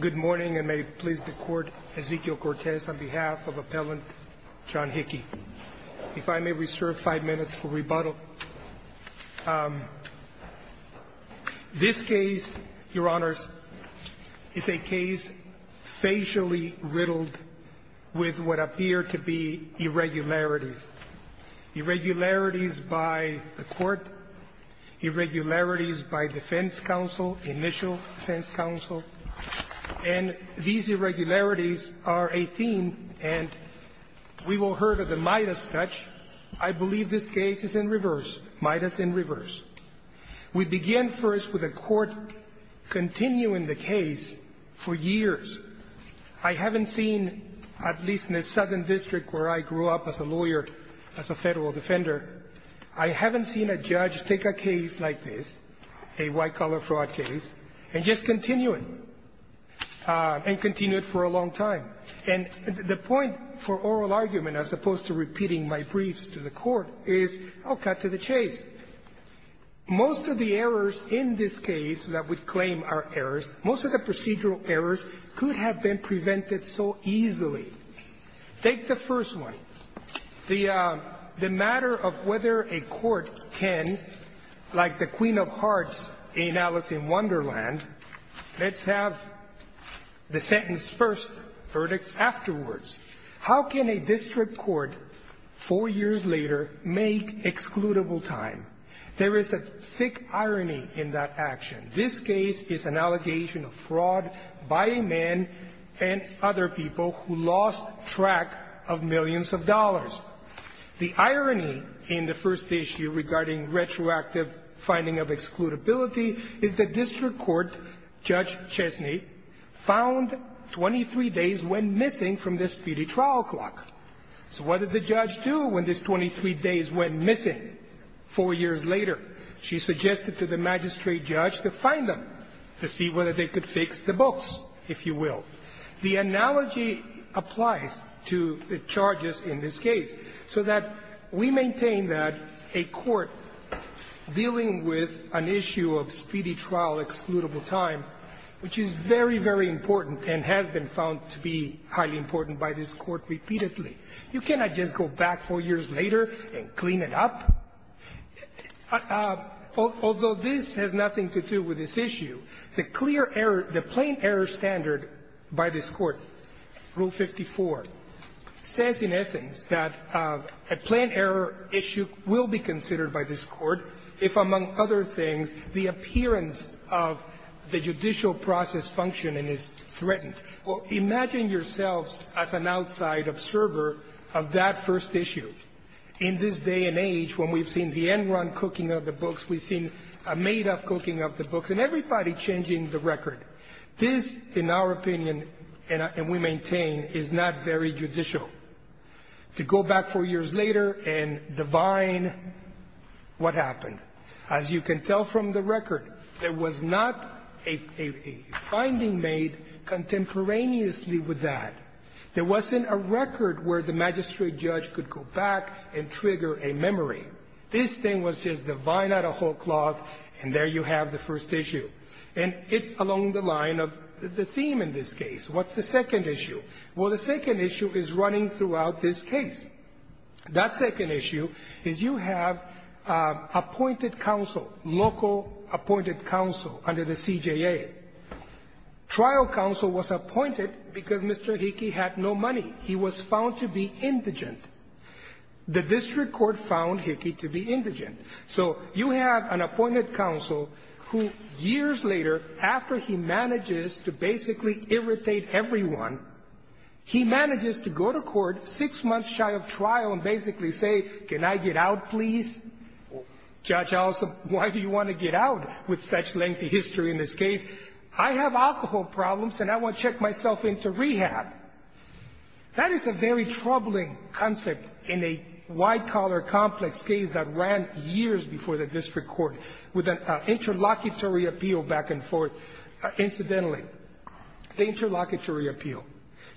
Good morning and may it please the court, Ezekiel Cortez on behalf of appellant John Hickey. If I may reserve five minutes for rebuttal. This case, your honors, is a case facially riddled with what appear to be irregularities. Irregularities by the court, irregularities by defense counsel, initial defense counsel, and these irregularities are a theme and we will heard of the Midas touch. I believe this case is in reverse, Midas in reverse. We begin first with a court continuing the case for years. I haven't seen, at least in the southern district where I grew up as a lawyer, as a federal defender, I haven't seen a judge take a case like this, a white-collar fraud case, and just continue it, and continue it for a long time. And the point for oral argument, as opposed to repeating my briefs to the court, is, oh, cut to the chase. Most of the errors in this case that we claim are errors, most of the procedural errors could have been prevented so easily. Take the first one, the matter of whether a court can, like the queen of hearts in Alice in Wonderland, let's have the sentence first, verdict afterwards. How can a district court, four years later, make excludable time? There is a thick irony in that action. This case is an allegation of fraud by a man and other people who lost track of millions of dollars. The irony in the first issue regarding retroactive finding of excludability is that district court Judge Chesney found 23 days went missing from the speedy trial clock. So what did the judge do when these 23 days went missing four years later? She suggested to the magistrate judge to find them to see whether they could fix the books, if you will. The analogy applies to the charges in this case, so that we maintain that a court dealing with an issue of speedy trial excludable time, which is very, very important and has been found to be highly important by this Court repeatedly. You cannot just go back four years later and clean it up. Although this has nothing to do with this issue, the clear error, the plain error standard by this Court, Rule 54, says, in essence, that a plain error issue will be considered by this Court if, among other things, the appearance of the judicial process functioning is threatened. Well, imagine yourselves as an outside observer of that first issue. In this day and age, when we've seen the end-run cooking of the books, we've seen a made-up cooking of the books, and everybody changing the record. This, in our opinion, and we maintain, is not very judicial. To go back four years later and divine what happened. As you can tell from the record, there was not a finding made contemporaneously with that. There wasn't a record where the magistrate judge could go back and trigger a memory. This thing was just divine out of whole cloth, and there you have the first issue. And it's along the line of the theme in this case. What's the second issue? Well, the second issue is running throughout this case. That second issue is you have appointed counsel, local appointed counsel, under the CJA. Trial counsel was appointed because Mr. Hickey had no money. He was found to be indigent. The district court found Hickey to be indigent. So you have an appointed counsel who, years later, after he manages to basically irritate everyone, he manages to go to court six months shy of trial and basically say, can I get out, please? Judge, also, why do you want to get out with such lengthy history in this case? I have alcohol problems, and I want to check myself into rehab. That is a very troubling concept in a wide-collar, complex case that ran years before the district court with an interlocutory appeal back and forth. Incidentally, the interlocutory appeal,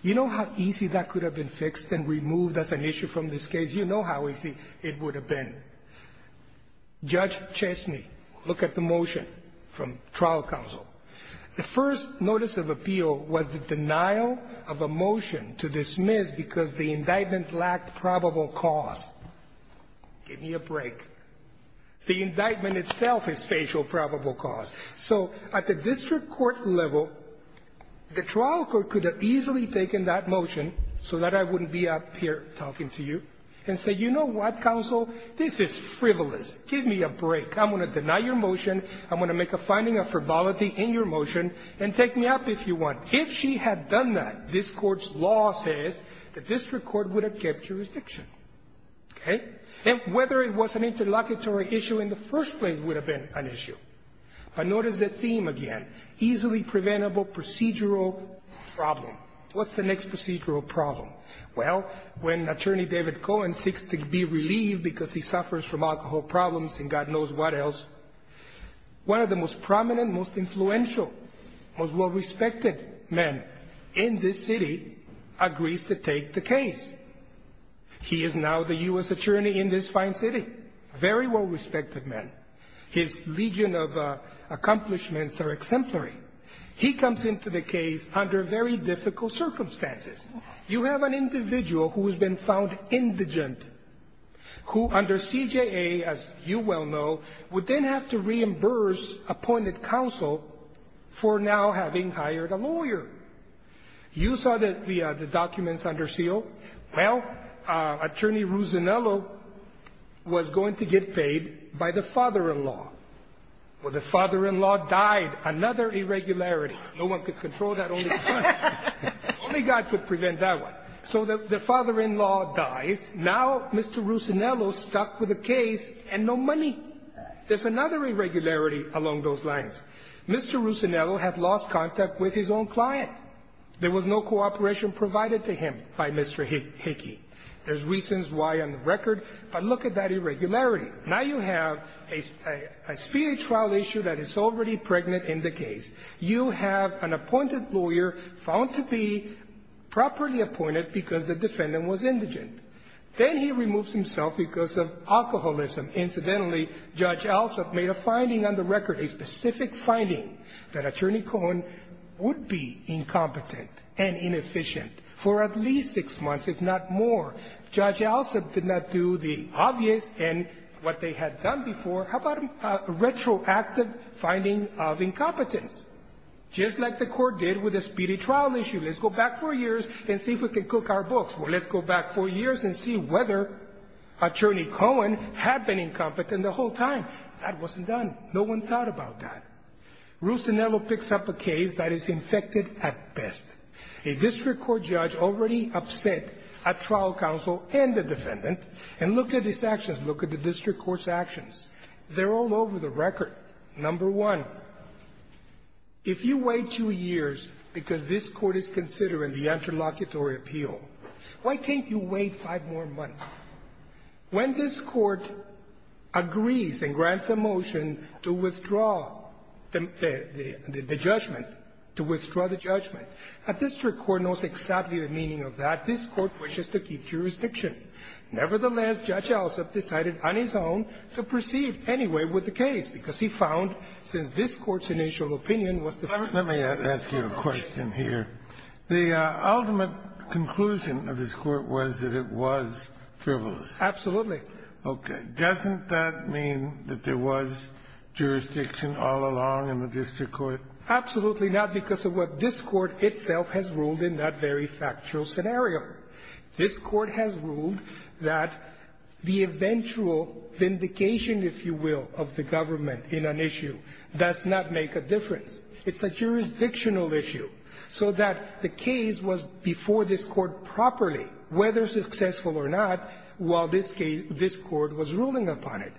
you know how easy that could have been fixed and removed as an issue from this case? You know how easy it would have been. Judge Chesney, look at the motion from trial counsel. The first notice of appeal was the denial of a motion to dismiss because the indictment lacked probable cause. Give me a break. The indictment itself is facial probable cause. So at the district court level, the trial court could have easily taken that motion so that I wouldn't be up here talking to you and say, you know what, counsel, this is frivolous. Give me a break. I'm going to deny your motion. I'm going to make a finding of frivolity in your motion, and take me up if you want. If she had done that, this Court's law says, the district court would have kept jurisdiction. Okay? And whether it was an interlocutory issue in the first place would have been an issue. But notice the theme again, easily preventable procedural problem. What's the next procedural problem? Well, when Attorney David Cohen seeks to be relieved because he suffers from alcohol problems and God knows what else, one of the most prominent, most influential, most well-respected men in this city agrees to take the case. He is now the U.S. attorney in this fine city, a very well-respected man. His legion of accomplishments are exemplary. He comes into the case under very difficult circumstances. You have an individual who has been found indigent, who under CJA, as you well know, would then have to reimburse appointed counsel for now having hired a lawyer. You saw the documents under seal. Well, Attorney Ruzzinello was going to get paid by the father-in-law. Well, the father-in-law died, another irregularity. No one could control that. Only God could prevent that one. So the father-in-law dies. Now Mr. Ruzzinello is stuck with a case and no money. There's another irregularity along those lines. Mr. Ruzzinello had lost contact with his own client. There was no cooperation provided to him by Mr. Hickey. There's reasons why on the record. But look at that irregularity. Now you have a speedy trial issue that is already pregnant in the case. You have an appointed lawyer found to be properly appointed because the defendant was indigent. Then he removes himself because of alcoholism. Incidentally, Judge Alsup made a finding on the record, a specific finding, that Attorney Cohen would be incompetent and inefficient for at least six months, if not more. Judge Alsup did not do the obvious and what they had done before. How about a retroactive finding of incompetence? Just like the court did with the speedy trial issue. Let's go back four years and see if we can cook our books. Or let's go back four years and see whether Attorney Cohen had been incompetent the whole time. That wasn't done. No one thought about that. Ruzzinello picks up a case that is infected at best. A district court judge already upset a trial counsel and the defendant, and look at his actions. Look at the district court's actions. They're all over the record. Number one, if you wait two years because this Court is considering the interlocutory appeal, why can't you wait five more months? When this Court agrees and grants a motion to withdraw the judgment, to withdraw the judgment, a district court knows exactly the meaning of that. This Court wishes to keep jurisdiction. Nevertheless, Judge Alsup decided on his own to proceed anyway with the case, because he found, since this Court's initial opinion was the first one. Let me ask you a question here. The ultimate conclusion of this Court was that it was frivolous. Absolutely. Okay. Doesn't that mean that there was jurisdiction all along in the district court? Absolutely not, because of what this Court itself has ruled in that very factual scenario. This Court has ruled that the eventual vindication, if you will, of the government in an issue does not make a difference. It's a jurisdictional issue. So that the case was before this Court properly, whether successful or not, while this case this Court was ruling upon it.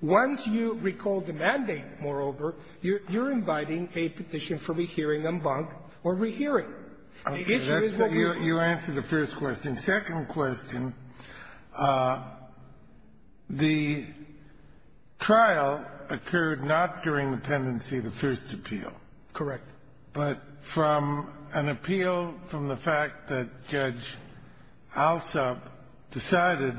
Once you recall the mandate, moreover, you're inviting a petition for rehearing en banc or rehearing. The issue is what we're doing. Okay. You answered the first question. Second question, the trial occurred not during the pendency of the first appeal. Correct. But from an appeal from the fact that Judge Alsop decided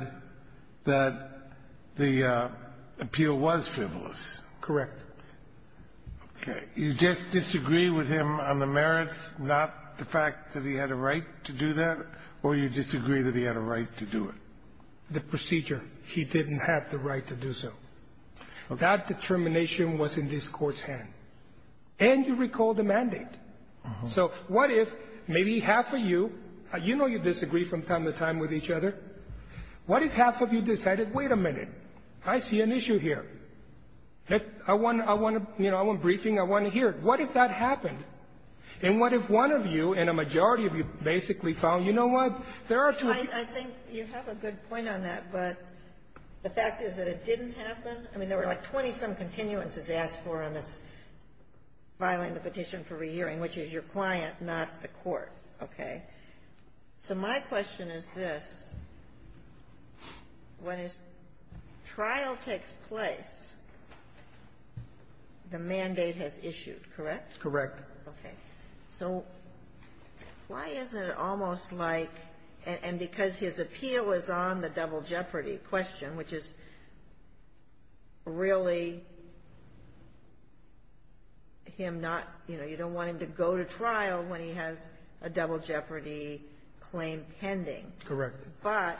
that the appeal was frivolous. Correct. Okay. You just disagree with him on the merits, not the fact that he had a right to do that, or you disagree that he had a right to do it? The procedure, he didn't have the right to do so. Okay. That determination was in this Court's hand. And you recall the mandate. So what if maybe half of you, you know you disagree from time to time with each other. What if half of you decided, wait a minute, I see an issue here? I want to, you know, I want briefing. I want to hear it. What if that happened? And what if one of you and a majority of you basically found, you know what, there are two people. I think you have a good point on that. But the fact is that it didn't happen. I mean, there were like 20-some continuances asked for on this filing the petition for re-hearing, which is your client, not the Court. Okay. So my question is this. When a trial takes place, the mandate has issued, correct? Correct. Okay. So why isn't it almost like, and because his appeal is on the double jeopardy question, which is really him not, you know, you don't want him to go to trial when he has a double jeopardy claim pending. Correct. But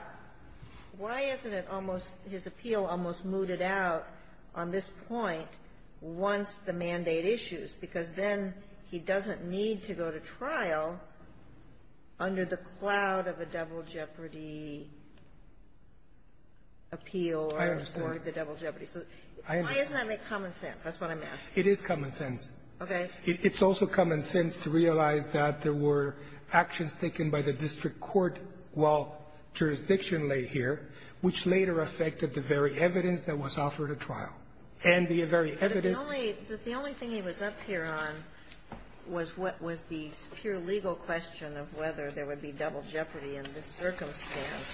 why isn't it almost, his appeal almost mooted out on this point once the mandate issues? Because then he doesn't need to go to trial under the cloud of a double jeopardy appeal. I understand. Or the double jeopardy. So why doesn't that make common sense? That's what I'm asking. It is common sense. Okay. It's also common sense to realize that there were actions taken by the district court while jurisdiction lay here, which later affected the very evidence that was offered at trial. And the very evidence But the only thing he was up here on was what was the pure legal question of whether there would be double jeopardy in this circumstance,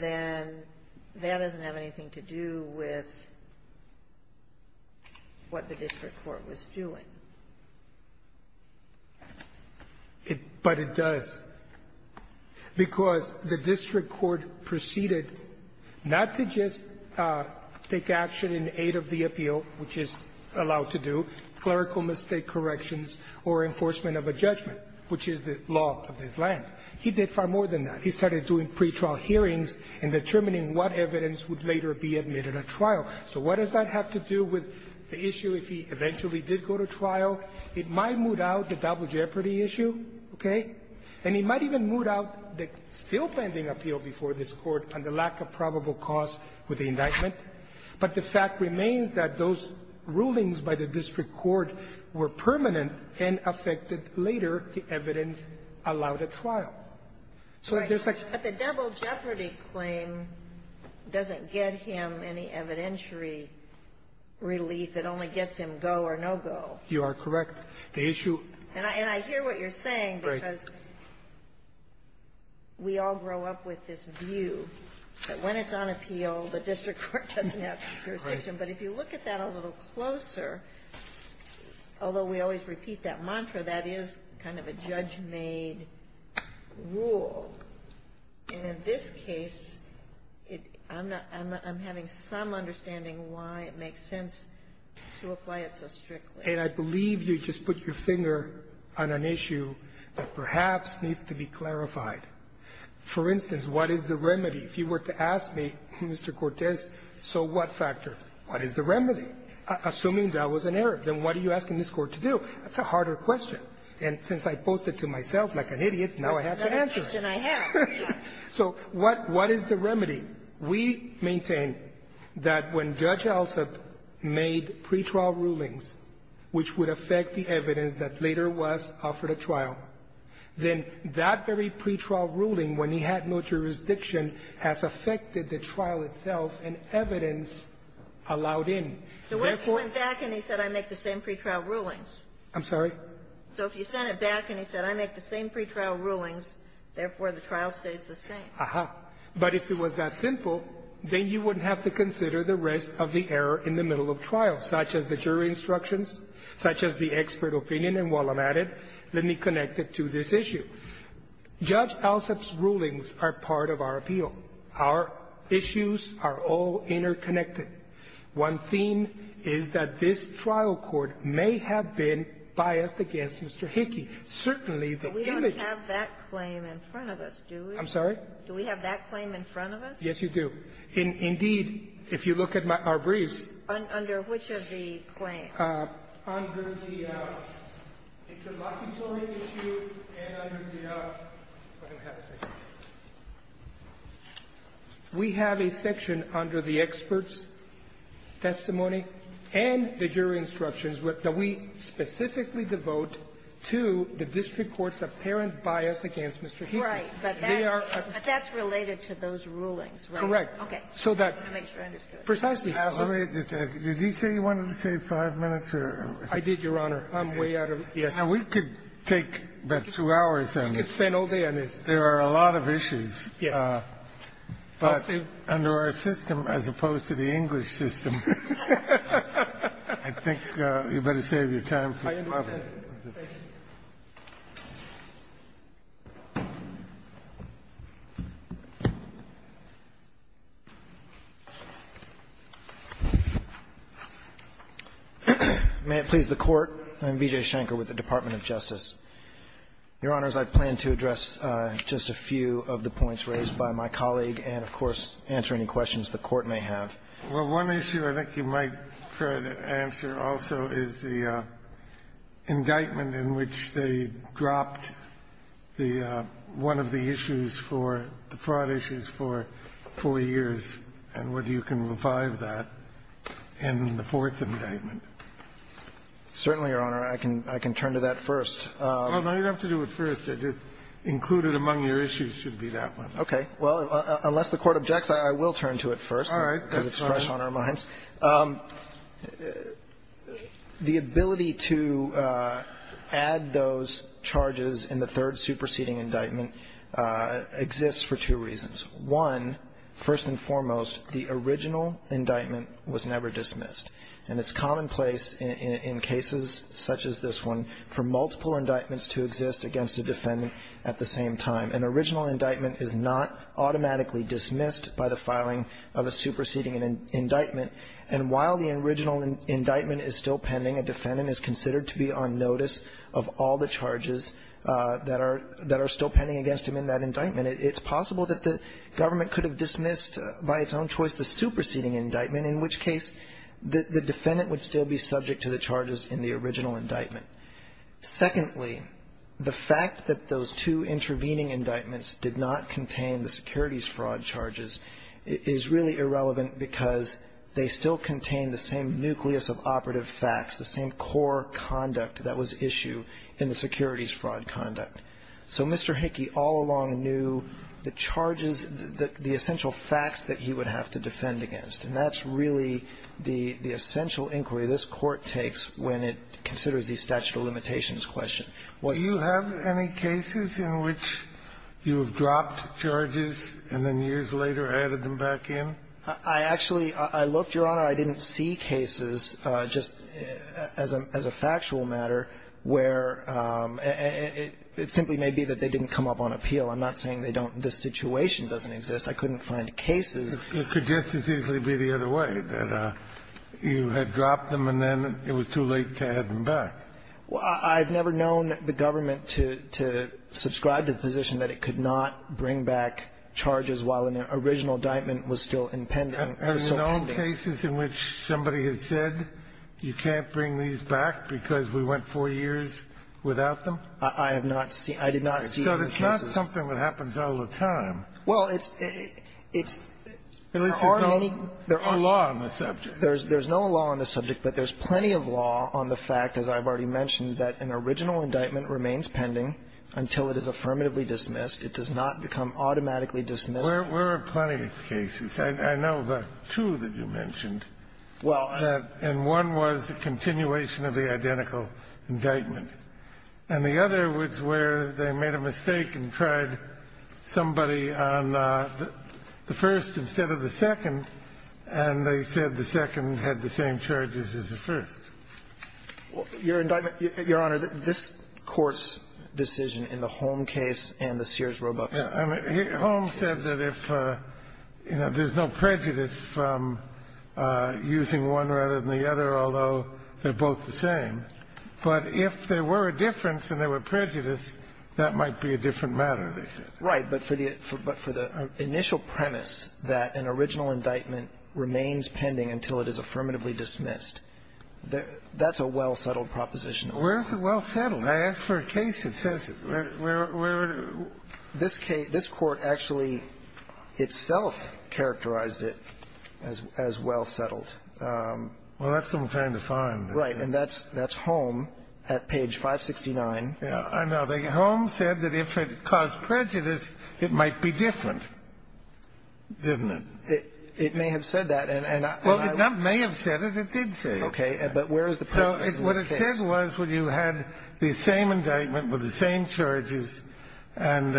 then that doesn't have anything to do with what the district court was doing. But it does, because the district court proceeded not to just take action in aid of the appeal, which is allowed to do, clerical mistake corrections or enforcement of a judgment, which is the law of this land. He did far more than that. He started doing pretrial hearings and determining what evidence would later be admitted at trial. So what does that have to do with the issue if he eventually did go to trial? It might moot out the double jeopardy issue. Okay. And he might even moot out the still pending appeal before this Court on the lack of probable cause with the indictment. But the fact remains that those rulings by the district court were permanent and affected later the evidence allowed at trial. So there's such But the double jeopardy claim doesn't get him any evidentiary relief. It only gets him go or no go. You are correct. The issue And I hear what you're saying, because we all grow up with this view that when it's on appeal, the district court doesn't have jurisdiction. But if you look at that a little closer, although we always repeat that mantra, that is kind of a judge-made rule. And in this case, I'm having some understanding why it makes sense to apply it so strictly. And I believe you just put your finger on an issue that perhaps needs to be clarified. For instance, what is the remedy? If you were to ask me, Mr. Cortez, so what factor, what is the remedy? Assuming that was an error, then what are you asking this Court to do? That's a harder question. And since I posed it to myself like an idiot, now I have to answer it. So what is the remedy? We maintain that when Judge Elzip made pretrial rulings, which would affect the evidence that later was offered at trial, then that very pretrial ruling, when he had no jurisdiction, has affected the trial itself and evidence allowed in. Therefore So what if he went back and he said, I make the same pretrial rulings? I'm sorry? So if you sent it back and he said, I make the same pretrial rulings, therefore the trial stays the same. Aha. But if it was that simple, then you wouldn't have to consider the rest of the error in the middle of trial, such as the jury instructions, such as the expert opinion. And while I'm at it, let me connect it to this issue. Judge Elzip's rulings are part of our appeal. Our issues are all interconnected. One theme is that this trial court may have been biased against Mr. Hickey. Certainly, the image We don't have that claim in front of us, do we? I'm sorry? Do we have that claim in front of us? Yes, you do. Indeed, if you look at our briefs Under which of the claims? Under the interlocutory issue and under the We have a section under the experts testimony and the jury instructions that we specifically devote to the district court's apparent bias against Mr. Hickey. Right. But that's related to those rulings, right? That's correct. Okay. So that Precisely. Did you say you wanted to save five minutes? I did, Your Honor. I'm way out of it. Yes. Now, we could take about two hours on this. We could spend all day on this. There are a lot of issues. Yes. But under our system, as opposed to the English system, I think you'd better save your time. I understand. Thank you. May it please the Court. I'm B.J. Schenker with the Department of Justice. Your Honors, I plan to address just a few of the points raised by my colleague and, of course, answer any questions the Court may have. Well, one issue I think you might try to answer also is the indictment in which they dropped the one of the issues for the fraud issues for four years and whether you can revive that in the fourth indictment. Certainly, Your Honor. I can turn to that first. Well, no, you don't have to do it first. Included among your issues should be that one. Okay. Well, unless the Court objects, I will turn to it first. Because it's fresh on our minds. The ability to add those charges in the third superseding indictment exists for two reasons. One, first and foremost, the original indictment was never dismissed. And it's commonplace in cases such as this one for multiple indictments to exist against a defendant at the same time. An original indictment is not automatically dismissed by the filing of a superseding indictment. And while the original indictment is still pending, a defendant is considered to be on notice of all the charges that are still pending against him in that indictment. It's possible that the government could have dismissed by its own choice the superseding indictment, in which case the defendant would still be subject to the charges in the original indictment. Secondly, the fact that those two intervening indictments did not contain the securities fraud charges is really irrelevant because they still contain the same nucleus of operative facts, the same core conduct that was issued in the securities fraud conduct. So Mr. Hickey all along knew the charges, the essential facts that he would have to defend against. And that's really the essential inquiry this Court takes when it considers the statute of limitations question. What you have any cases in which you have dropped charges and then years later added them back in? I actually, I looked, Your Honor. I didn't see cases, just as a factual matter, where it simply may be that they didn't come up on appeal. I'm not saying they don't, this situation doesn't exist. I couldn't find cases. It could just as easily be the other way, that you had dropped them and then it was too late to add them back. I've never known the government to subscribe to the position that it could not bring back charges while an original indictment was still impending, or still pending. Are there known cases in which somebody has said you can't bring these back because we went four years without them? I have not seen. I did not see those cases. So it's not something that happens all the time. Well, it's, it's, there aren't any law on the subject. There's no law on the subject, but there's plenty of law on the fact, as I've already mentioned, that an original indictment remains pending until it is affirmatively dismissed. It does not become automatically dismissed. There are plenty of cases. I know of two that you mentioned. Well. And one was the continuation of the identical indictment. And the other was where they made a mistake and tried somebody on the first instead of the second, and they said the second had the same charges as the first. Your indictment, Your Honor, this Court's decision in the Holm case and the Sears-Roboff case. Yeah. I mean, Holm said that if, you know, there's no prejudice from using one rather than the other, although they're both the same, but if there were a difference and there were prejudice, that might be a different matter, they said. Right. But for the initial premise that an original indictment remains pending until it is affirmatively dismissed, that's a well-settled proposition. Where is it well-settled? I asked for a case that says it. This case, this Court actually itself characterized it as well-settled. Well, that's what I'm trying to find. Right. And that's Holm at page 569. Yeah. I know. The Holm said that if it caused prejudice, it might be different, didn't it? It may have said that. Well, it may have said it. It did say it. Okay. But where is the premise in this case? What it said was when you had the same indictment with the same charges, and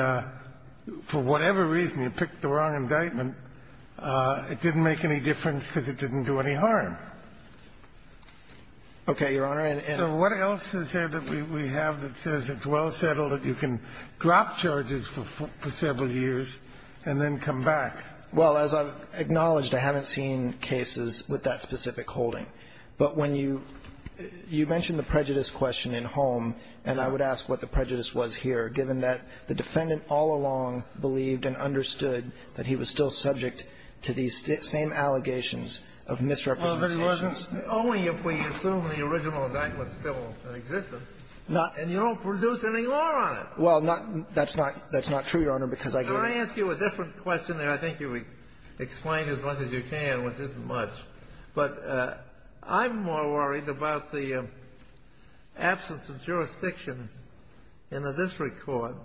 for whatever reason you picked the wrong indictment, it didn't make any difference because it didn't do any harm. Okay, Your Honor. So what else is there that we have that says it's well-settled, that you can drop charges for several years and then come back? Well, as I've acknowledged, I haven't seen cases with that specific holding. But when you mentioned the prejudice question in Holm, and I would ask what the prejudice was here, given that the defendant all along believed and understood that he was still subject to these same allegations of misrepresentations. Well, if it wasn't only if we assume the original indictment still existed, and you don't produce any law on it. Well, that's not true, Your Honor, because I can't. Can I ask you a different question there? I think you explained as much as you can, which isn't much. But I'm more worried about the absence of jurisdiction in the district court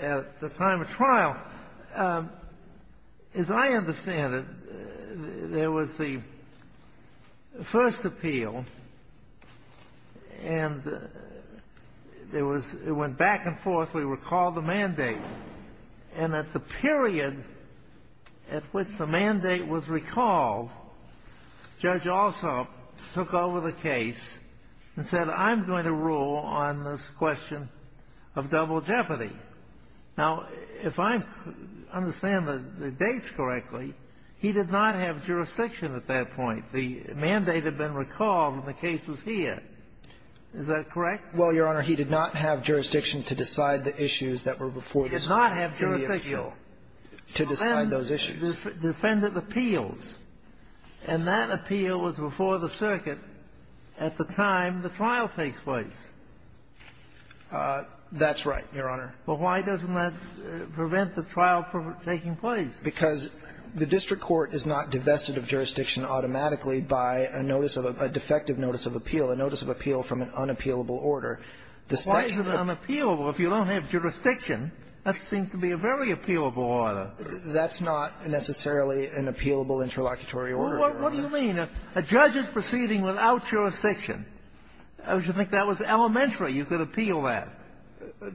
at the time of trial. As I understand it, there was the first appeal, and there was — it went back and forth. We recalled the mandate. And at the period at which the mandate was recalled, Judge Alsop took over the case and said, I'm going to rule on this question of double jeopardy. Now, if I understand the dates correctly, he did not have jurisdiction at that point. The mandate had been recalled, and the case was here. Is that correct? Well, Your Honor, he did not have jurisdiction to decide the issues that were before the circuit in the appeal. He did not have jurisdiction to decide those issues. Defendant appeals. And that appeal was before the circuit at the time the trial takes place. That's right, Your Honor. Well, why doesn't that prevent the trial from taking place? Because the district court is not divested of jurisdiction automatically by a notice of — a defective notice of appeal, a notice of appeal from an unappealable order. Why is it unappealable if you don't have jurisdiction? That seems to be a very appealable order. That's not necessarily an appealable interlocutory order, Your Honor. Well, what do you mean? A judge is proceeding without jurisdiction. I would think that was elementary. You could appeal that.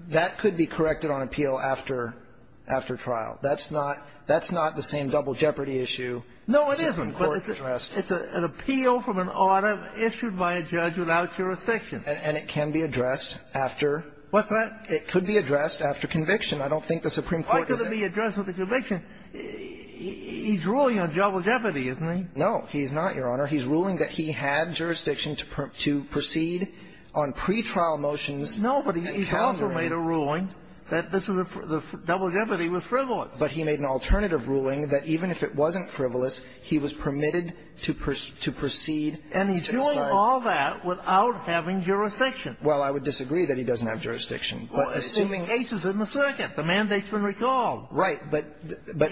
That could be corrected on appeal after — after trial. That's not — that's not the same double jeopardy issue as the court addressed. It's an appeal from an order issued by a judge without jurisdiction. And it can be addressed after — What's that? It could be addressed after conviction. I don't think the Supreme Court — Why could it be addressed with a conviction? He's ruling on double jeopardy, isn't he? No, he's not, Your Honor. He's ruling that he had jurisdiction to proceed on pretrial motions. No, but he's also made a ruling that this is a — the double jeopardy was frivolous. But he made an alternative ruling that even if it wasn't frivolous, he was permitted to proceed — And he's doing all that without having jurisdiction. Well, I would disagree that he doesn't have jurisdiction. But assuming — Well, it's in the cases in the circuit. The mandate's been recalled. Right. But — but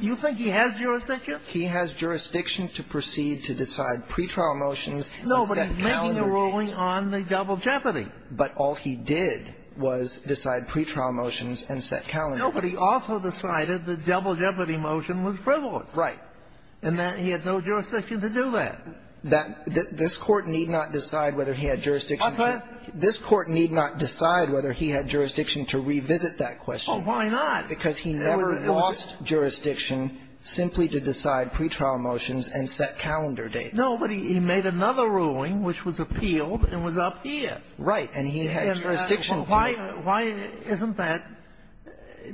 — You think he has jurisdiction? He has jurisdiction to proceed to decide pretrial motions and set calendar dates. No, but he's making a ruling on the double jeopardy. But all he did was decide pretrial motions and set calendar dates. No, but he also decided the double jeopardy motion was frivolous. Right. And that he had no jurisdiction to do that. That — this Court need not decide whether he had jurisdiction to — What's that? This Court need not decide whether he had jurisdiction to revisit that question. Oh, why not? Because he never lost jurisdiction simply to decide pretrial motions and set calendar dates. No, but he made another ruling which was appealed and was up here. Right. And he had jurisdiction to — Well, why — why isn't that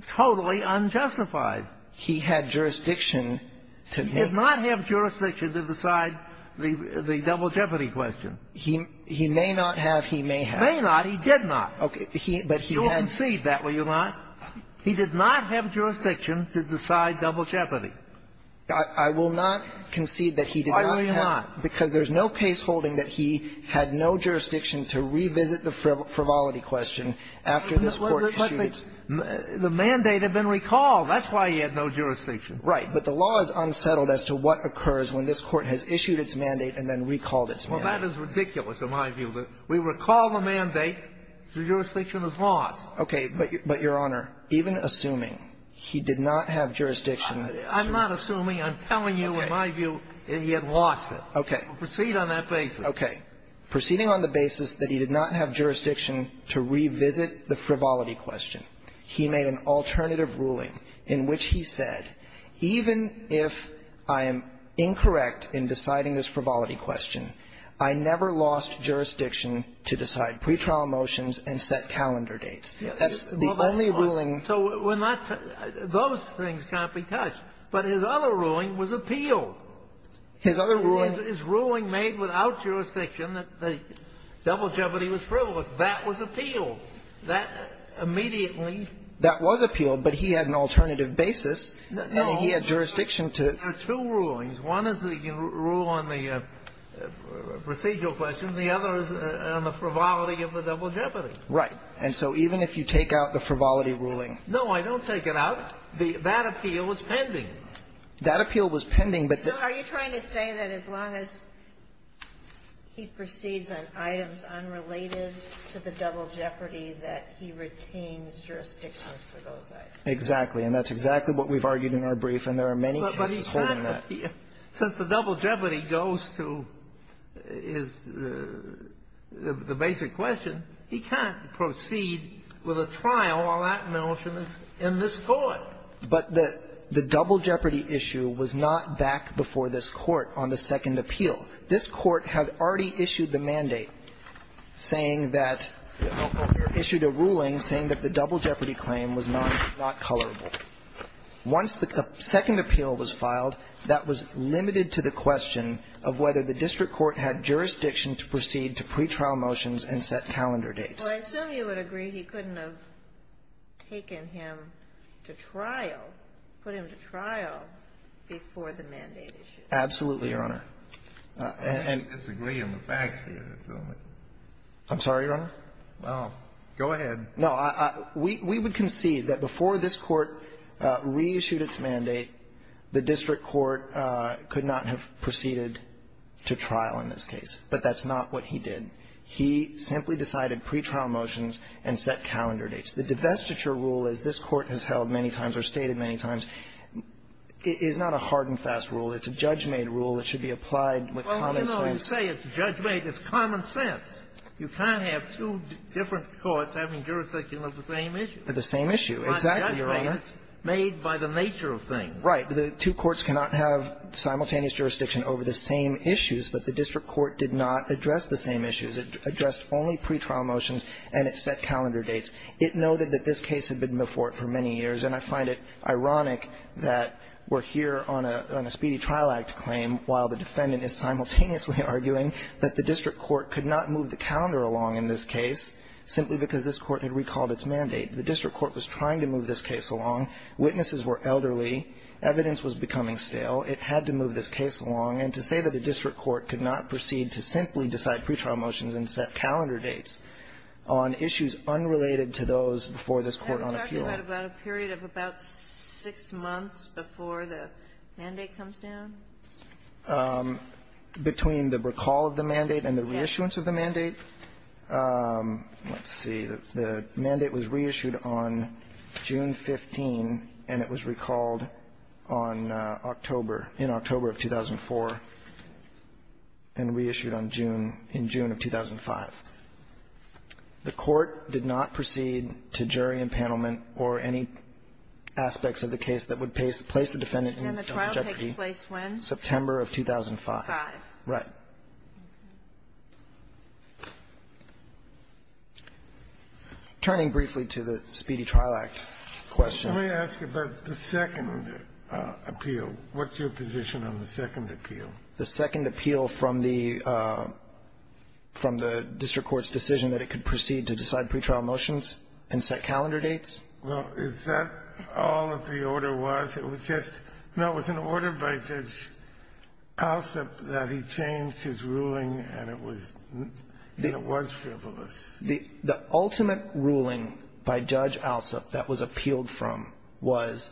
totally unjustified? He had jurisdiction to make — He did not have jurisdiction to decide the double jeopardy question. He may not have. He may have. May not. He did not. Okay. But he had — You'll concede that, will you not? He did not have jurisdiction to decide double jeopardy. I will not concede that he did not have — Why will you not? Because there's no case holding that he had no jurisdiction to revisit the frivolity question after this Court issued its — But the mandate had been recalled. That's why he had no jurisdiction. Right. But the law is unsettled as to what occurs when this Court has issued its mandate and then recalled its mandate. Well, that is ridiculous, in my view. We recall the mandate. The jurisdiction is lost. Okay. But, Your Honor, even assuming he did not have jurisdiction — I'm not assuming. I'm telling you, in my view, he had lost it. Okay. Proceed on that basis. Okay. Proceeding on the basis that he did not have jurisdiction to revisit the frivolity question, he made an alternative ruling in which he said, even if I am incorrect in deciding this frivolity question, I never lost jurisdiction to decide pretrial motions and set calendar dates. That's the only ruling — So we're not — those things can't be touched. But his other ruling was appeal. His other ruling — His ruling made without jurisdiction that the double jeopardy was frivolous. That was appeal. That immediately — That was appeal. But he had an alternative basis. He had jurisdiction to — No. There are two rulings. One is the rule on the procedural question. The other is on the frivolity of the double jeopardy. Right. And so even if you take out the frivolity ruling — No, I don't take it out. That appeal was pending. That appeal was pending, but — So are you trying to say that as long as he proceeds on items unrelated to the double jeopardy that he retains jurisdiction for those items? Exactly. And that's exactly what we've argued in our brief, and there are many cases holding that. But he can't appeal. Since the double jeopardy goes to his — the basic question, he can't proceed with a trial while that motion is in this Court. But the — the double jeopardy issue was not back before this Court on the second appeal. This Court had already issued the mandate saying that — issued a ruling saying that the double jeopardy claim was not — not colorable. Once the second appeal was filed, that was limited to the question of whether the district court had jurisdiction to proceed to pretrial motions and set calendar dates. Well, I assume you would agree he couldn't have taken him to trial, put him to trial before the mandate issue. Absolutely, Your Honor. I disagree on the facts here. I'm sorry, Your Honor? Well, go ahead. No. We — we would concede that before this Court reissued its mandate, the district court could not have proceeded to trial in this case. But that's not what he did. He simply decided pretrial motions and set calendar dates. The divestiture rule, as this Court has held many times or stated many times, is not a hard-and-fast rule. It's a judge-made rule that should be applied with common sense. Well, you know, you say it's judge-made. It's common sense. You can't have two different courts having jurisdiction over the same issue. The same issue. Exactly, Your Honor. It's not judge-made. It's made by the nature of things. Right. The two courts cannot have simultaneous jurisdiction over the same issues, but the It addressed only pretrial motions and it set calendar dates. It noted that this case had been before it for many years, and I find it ironic that we're here on a — on a speedy trial act claim while the defendant is simultaneously arguing that the district court could not move the calendar along in this case simply because this Court had recalled its mandate. The district court was trying to move this case along. Witnesses were elderly. Evidence was becoming stale. It had to move this case along. And to say that a district court could not proceed to simply decide pretrial motions and set calendar dates on issues unrelated to those before this Court on appeal. Are we talking about a period of about six months before the mandate comes down? Between the recall of the mandate and the reissuance of the mandate. Let's see. The mandate was reissued on June 15, and it was recalled on October — in October of 2004, and reissued on June — in June of 2005. The Court did not proceed to jury impanelment or any aspects of the case that would place the defendant in justice. And the trial takes place when? September of 2005. Five. Right. Turning briefly to the Speedy Trial Act question. Let me ask you about the second appeal. What's your position on the second appeal? The second appeal from the district court's decision that it could proceed to decide pretrial motions and set calendar dates? Well, is that all that the order was? It was just — no, it was an order by Judge Alsup that he changed his ruling, and it was — and it was frivolous. The ultimate ruling by Judge Alsup that was appealed from was,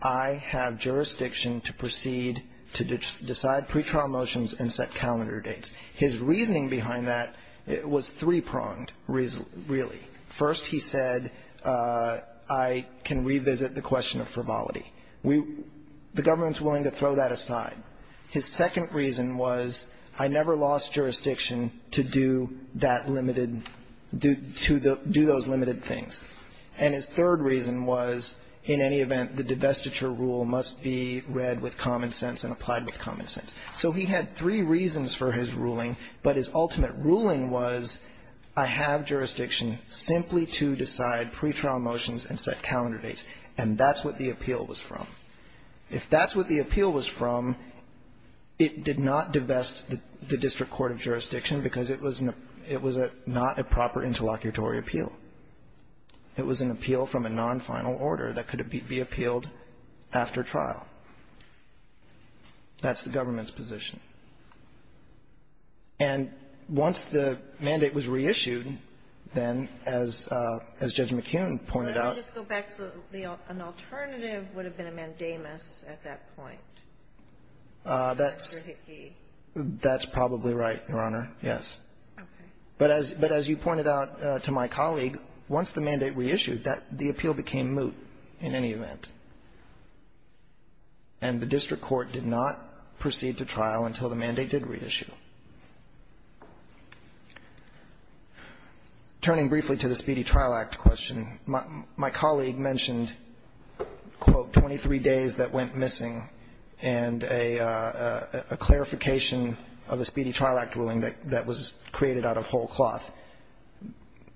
I have jurisdiction to proceed to decide pretrial motions and set calendar dates. His reasoning behind that was three-pronged, really. First, he said, I can revisit the question of frivolity. We — the government's willing to throw that aside. His second reason was, I never lost jurisdiction to do that limited — to do those limited things. And his third reason was, in any event, the divestiture rule must be read with common sense and applied with common sense. So he had three reasons for his ruling, but his ultimate ruling was, I have jurisdiction simply to decide pretrial motions and set calendar dates. And that's what the appeal was from. If that's what the appeal was from, it did not divest the district court of jurisdiction because it was an — it was not a proper interlocutory appeal. It was an appeal from a non-final order that could be appealed after trial. That's the government's position. And once the mandate was reissued, then, as Judge McKeon pointed out — But let me just go back to the — an alternative would have been a mandamus at that point. That's — Under Hickey. That's probably right, Your Honor. Yes. Okay. But as you pointed out to my colleague, once the mandate reissued, that — the appeal became moot in any event. And the district court did not proceed to trial until the mandate did reissue. Turning briefly to the Speedy Trial Act question, my colleague mentioned, quote, 23 days that went missing and a clarification of the Speedy Trial Act ruling that was created out of whole cloth.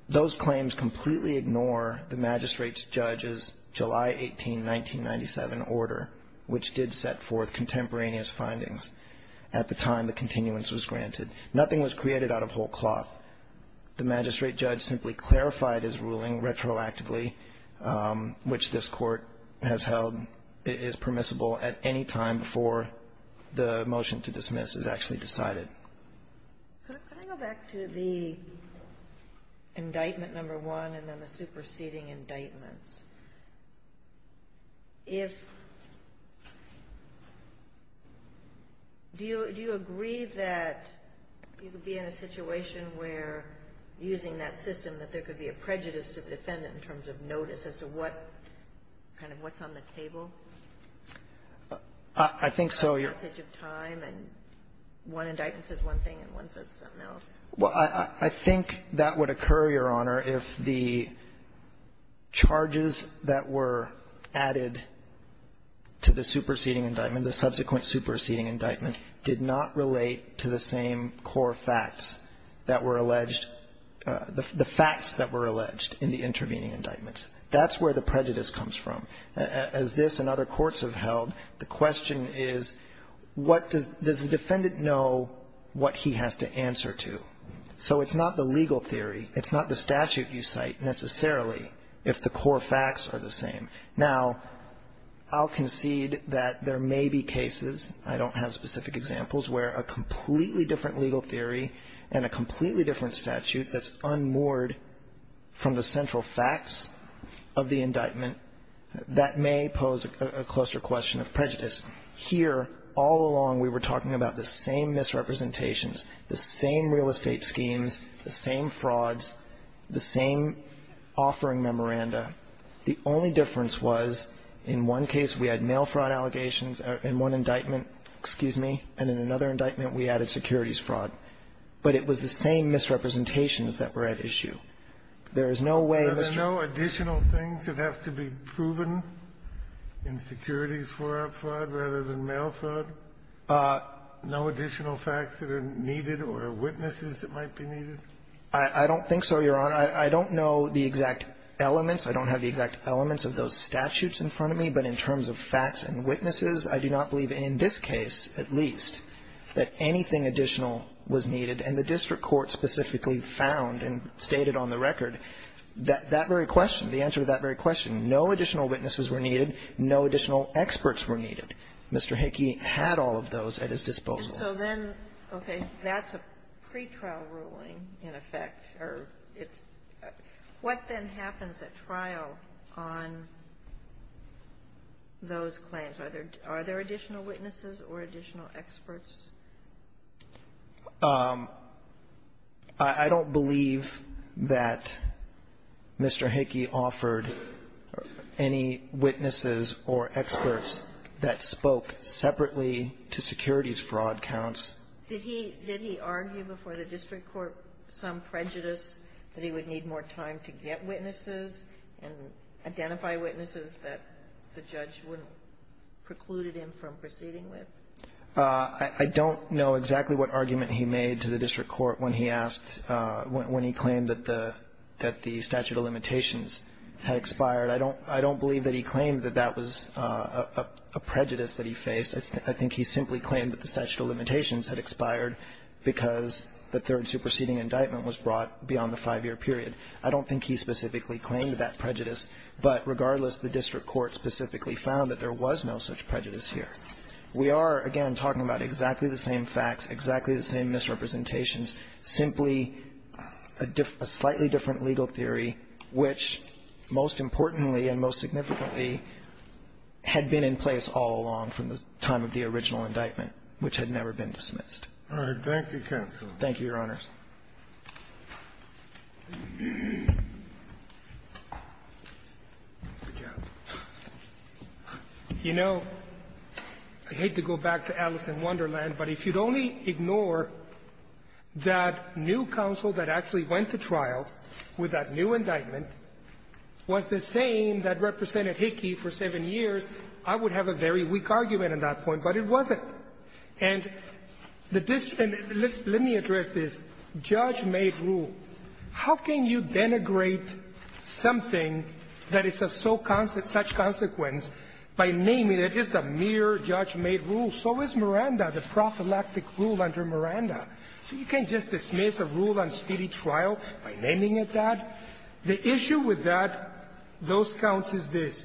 Those claims completely ignore the magistrate's judge's July 18, 1997, order, which did set forth contemporaneous findings at the time the continuance was granted. Nothing was created out of whole cloth. The magistrate judge simply clarified his ruling retroactively, which this Court has held is permissible at any time before the motion to dismiss is actually decided. Could I go back to the indictment number one and then the superseding indictments? If — do you agree that you could be in a situation where, using that system, that there could be a prejudice to the defendant in terms of notice as to what kind of what's on the table? I think so. The passage of time and one indictment says one thing and one says something else. Well, I think that would occur, Your Honor, if the charges that were added to the superseding indictment, the subsequent superseding indictment, did not relate to the same core facts that were alleged, the facts that were alleged in the intervening indictments. That's where the prejudice comes from. As this and other courts have held, the question is, what does the defendant know what he has to answer to? So it's not the legal theory. It's not the statute you cite, necessarily, if the core facts are the same. Now, I'll concede that there may be cases, I don't have specific examples, where a completely different legal theory and a completely different statute that's unmoored from the central facts of the indictment, that may pose a closer question of prejudice. Here, all along, we were talking about the same misrepresentations, the same real estate schemes, the same frauds, the same offering memoranda. The only difference was in one case we had mail fraud allegations in one indictment, excuse me, and in another indictment we added securities fraud. But it was the same misrepresentations that were at issue. There is no way that's true. Kennedy. Are there no additional things that have to be proven in securities fraud rather than mail fraud? No additional facts that are needed or witnesses that might be needed? I don't think so, Your Honor. I don't know the exact elements. I don't have the exact elements of those statutes in front of me. But in terms of facts and witnesses, I do not believe in this case, at least, that anything additional was needed. And the district court specifically found and stated on the record that that very question, the answer to that very question, no additional witnesses were needed, no additional experts were needed. Mr. Hickey had all of those at his disposal. And so then, okay, that's a pretrial ruling, in effect, or it's what then happens at trial on those claims? Are there additional witnesses or additional experts or witnesses? I don't believe that Mr. Hickey offered any witnesses or experts that spoke separately to securities fraud counts. Did he argue before the district court some prejudice that he would need more time to get witnesses and identify witnesses that the judge wouldn't preclude him from I don't know exactly what argument he made to the district court when he asked when he claimed that the statute of limitations had expired. I don't believe that he claimed that that was a prejudice that he faced. I think he simply claimed that the statute of limitations had expired because the third superseding indictment was brought beyond the five-year period. I don't think he specifically claimed that prejudice. But regardless, the district court specifically found that there was no such prejudice We are, again, talking about exactly the same facts, exactly the same misrepresentations, simply a slightly different legal theory which, most importantly and most significantly, had been in place all along from the time of the original indictment, which had never been dismissed. All right. Thank you, counsel. Thank you, Your Honors. You know, I hate to go back to Alice in Wonderland, but if you'd only ignore that new counsel that actually went to trial with that new indictment was the same that represented Hickey for seven years, I would have a very weak argument on that point, but it wasn't. And let me address this. Judge-made rule. How can you denigrate something that is of such consequence by naming it as a mere judge-made rule? So is Miranda, the prophylactic rule under Miranda. You can't just dismiss a rule on speedy trial by naming it that. The issue with that, those counts, is this.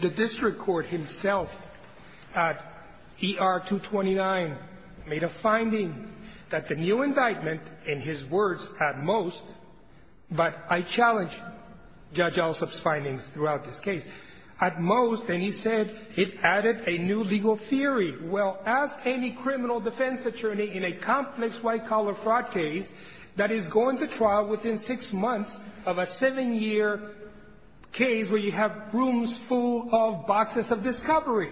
The district court himself at ER-229 made a finding that the new indictment, in his words, at most, but I challenge Judge Alsop's findings throughout this case, at most, and he said, it added a new legal theory. Well, ask any criminal defense attorney in a complex white-collar fraud case that is going to trial within six months of a seven-year case where you have rooms full of boxes of discovery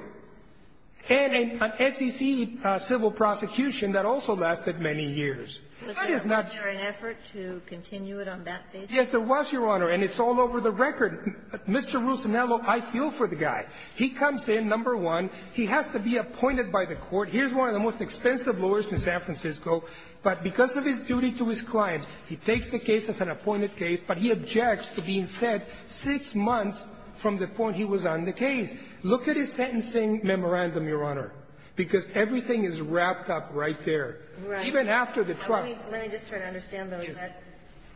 and an SEC civil prosecution that also lasted many years. That is not the case. Was there an effort to continue it on that basis? Yes, there was, Your Honor, and it's all over the record. Mr. Ruscinello, I feel for the guy. He comes in, number one. He has to be appointed by the court. Here's one of the most expensive lawyers in San Francisco, but because of his duty to his client, he takes the case as an appointed case, but he objects to being said six months from the point he was on the case. Look at his sentencing memorandum, Your Honor, because everything is wrapped up right there. Right. Even after the trial. Let me just try to understand, though. Is that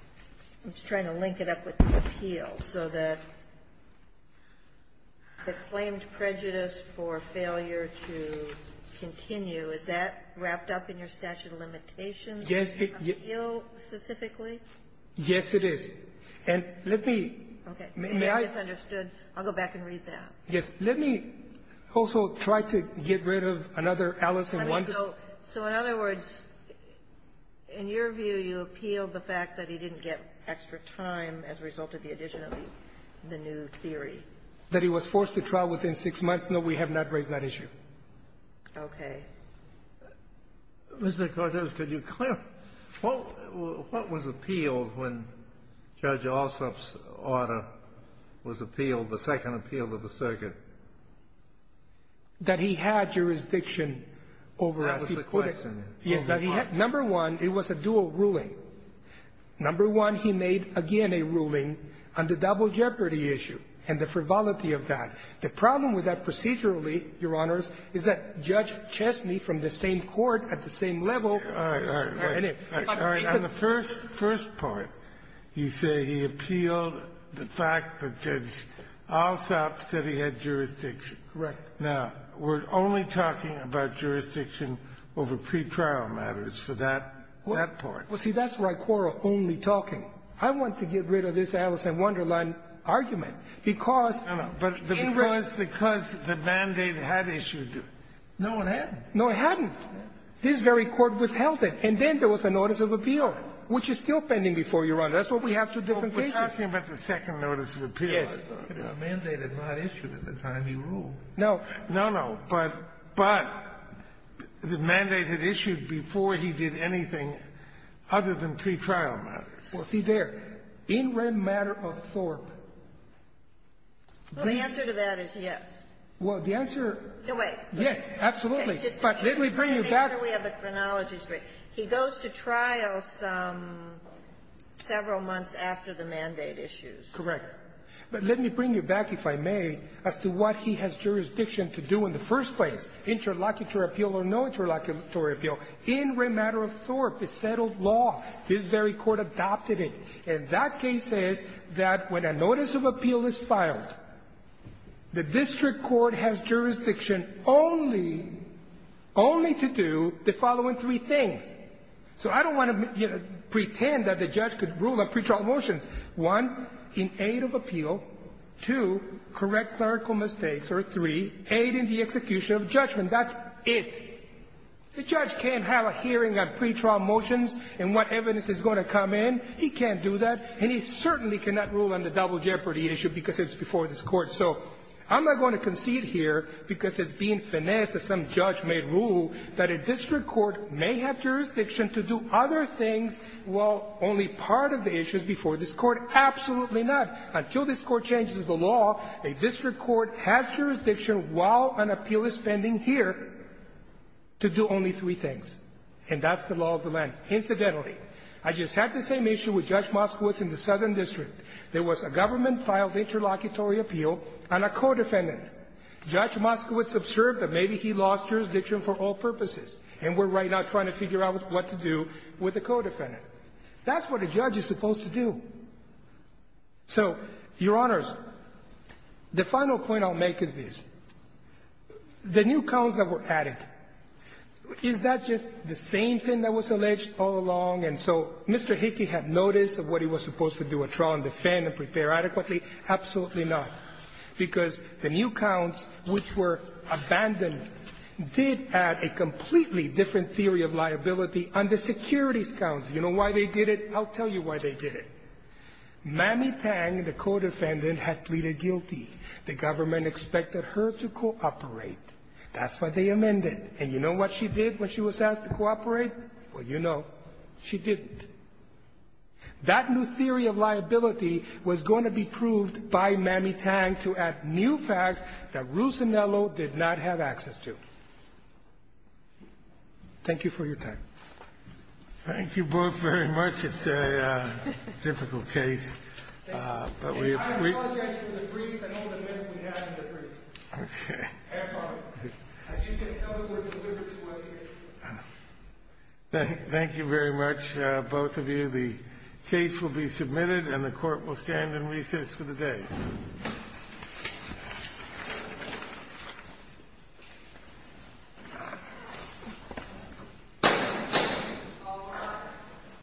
– I'm just trying to link it up with the appeal. So the claimed prejudice for failure to continue, is that wrapped up in your statute of limitations? Yes. Appeal specifically? Yes, it is. And let me – Okay. You may have misunderstood. I'll go back and read that. Yes. Let me also try to get rid of another Alice in Wonder. So in other words, in your view, you appeal the fact that he didn't get extra time as a result of the addition of the new theory? That he was forced to trial within six months. No, we have not raised that issue. Okay. Mr. Cortez, could you clear – what was appealed when Judge Ossoff's order was appealed, the second appeal of the circuit? That he had jurisdiction over as he put it. That was the question. Yes. That he had – number one, it was a dual ruling. Number one, he made again a ruling on the double jeopardy issue and the frivolity of that. The problem with that procedurally, Your Honors, is that Judge Chesney from the same court at the same level – All right. All right. All right. On the first part, you say he appealed the fact that Judge Ossoff said he had jurisdiction. Correct. Now, we're only talking about jurisdiction over pretrial matters for that part. Well, see, that's where I quarrel only talking. I want to get rid of this Alice in Wonderland argument because – No, no. But because the mandate had issued it. No, it hadn't. No, it hadn't. This very court withheld it. And then there was a notice of appeal, which is still pending before you, Your Honor. That's what we have two different cases. We're talking about the second notice of appeal, I thought. Yes. The mandate had not issued at the time he ruled. No. No, no. But the mandate had issued before he did anything other than pretrial matters. Well, see there, in rem matter of Thorpe, the answer to that is yes. Well, the answer – No way. Yes, absolutely. But let me bring you back – Let me make sure we have the chronology straight. He goes to trial several months after the mandate issues. Correct. But let me bring you back, if I may, as to what he has jurisdiction to do in the first place, interlocutory appeal or no interlocutory appeal. In rem matter of Thorpe, it's settled law. His very court adopted it. And that case says that when a notice of appeal is filed, the district court has jurisdiction only – only to do the following three things. So I don't want to, you know, pretend that the judge could rule on pretrial motions, one, in aid of appeal, two, correct clerical mistakes, or three, aid in the execution of judgment. That's it. The judge can't have a hearing on pretrial motions and what evidence is going to come in. He can't do that. And he certainly cannot rule on the double jeopardy issue because it's before this Court. So I'm not going to concede here, because it's being finessed that some judge may rule that a district court may have jurisdiction to do other things while only part of the issue is before this Court. Absolutely not. Until this Court changes the law, a district court has jurisdiction while an appeal is pending here. To do only three things. And that's the law of the land. Incidentally, I just had the same issue with Judge Moskowitz in the Southern District. There was a government-filed interlocutory appeal on a co-defendant. Judge Moskowitz observed that maybe he lost jurisdiction for all purposes, and we're right now trying to figure out what to do with the co-defendant. That's what a judge is supposed to do. So, Your Honors, the final point I'll make is this. The new counts that were added, is that just the same thing that was alleged all along? And so Mr. Hickey had notice of what he was supposed to do, withdraw and defend and prepare adequately? Absolutely not. Because the new counts, which were abandoned, did add a completely different theory of liability on the securities counts. You know why they did it? I'll tell you why they did it. Mamie Tang, the co-defendant, had pleaded guilty. The government expected her to cooperate. That's why they amended. And you know what she did when she was asked to cooperate? Well, you know. She didn't. That new theory of liability was going to be proved by Mamie Tang to add new facts that Ruth Zanello did not have access to. Thank you for your time. Thank you both very much. It's a difficult case. I apologize for the brief and all the myths we had in the brief. Have fun. I think that's how it was delivered to us here. Thank you very much, both of you. The case will be submitted and the court will stand in recess for the day.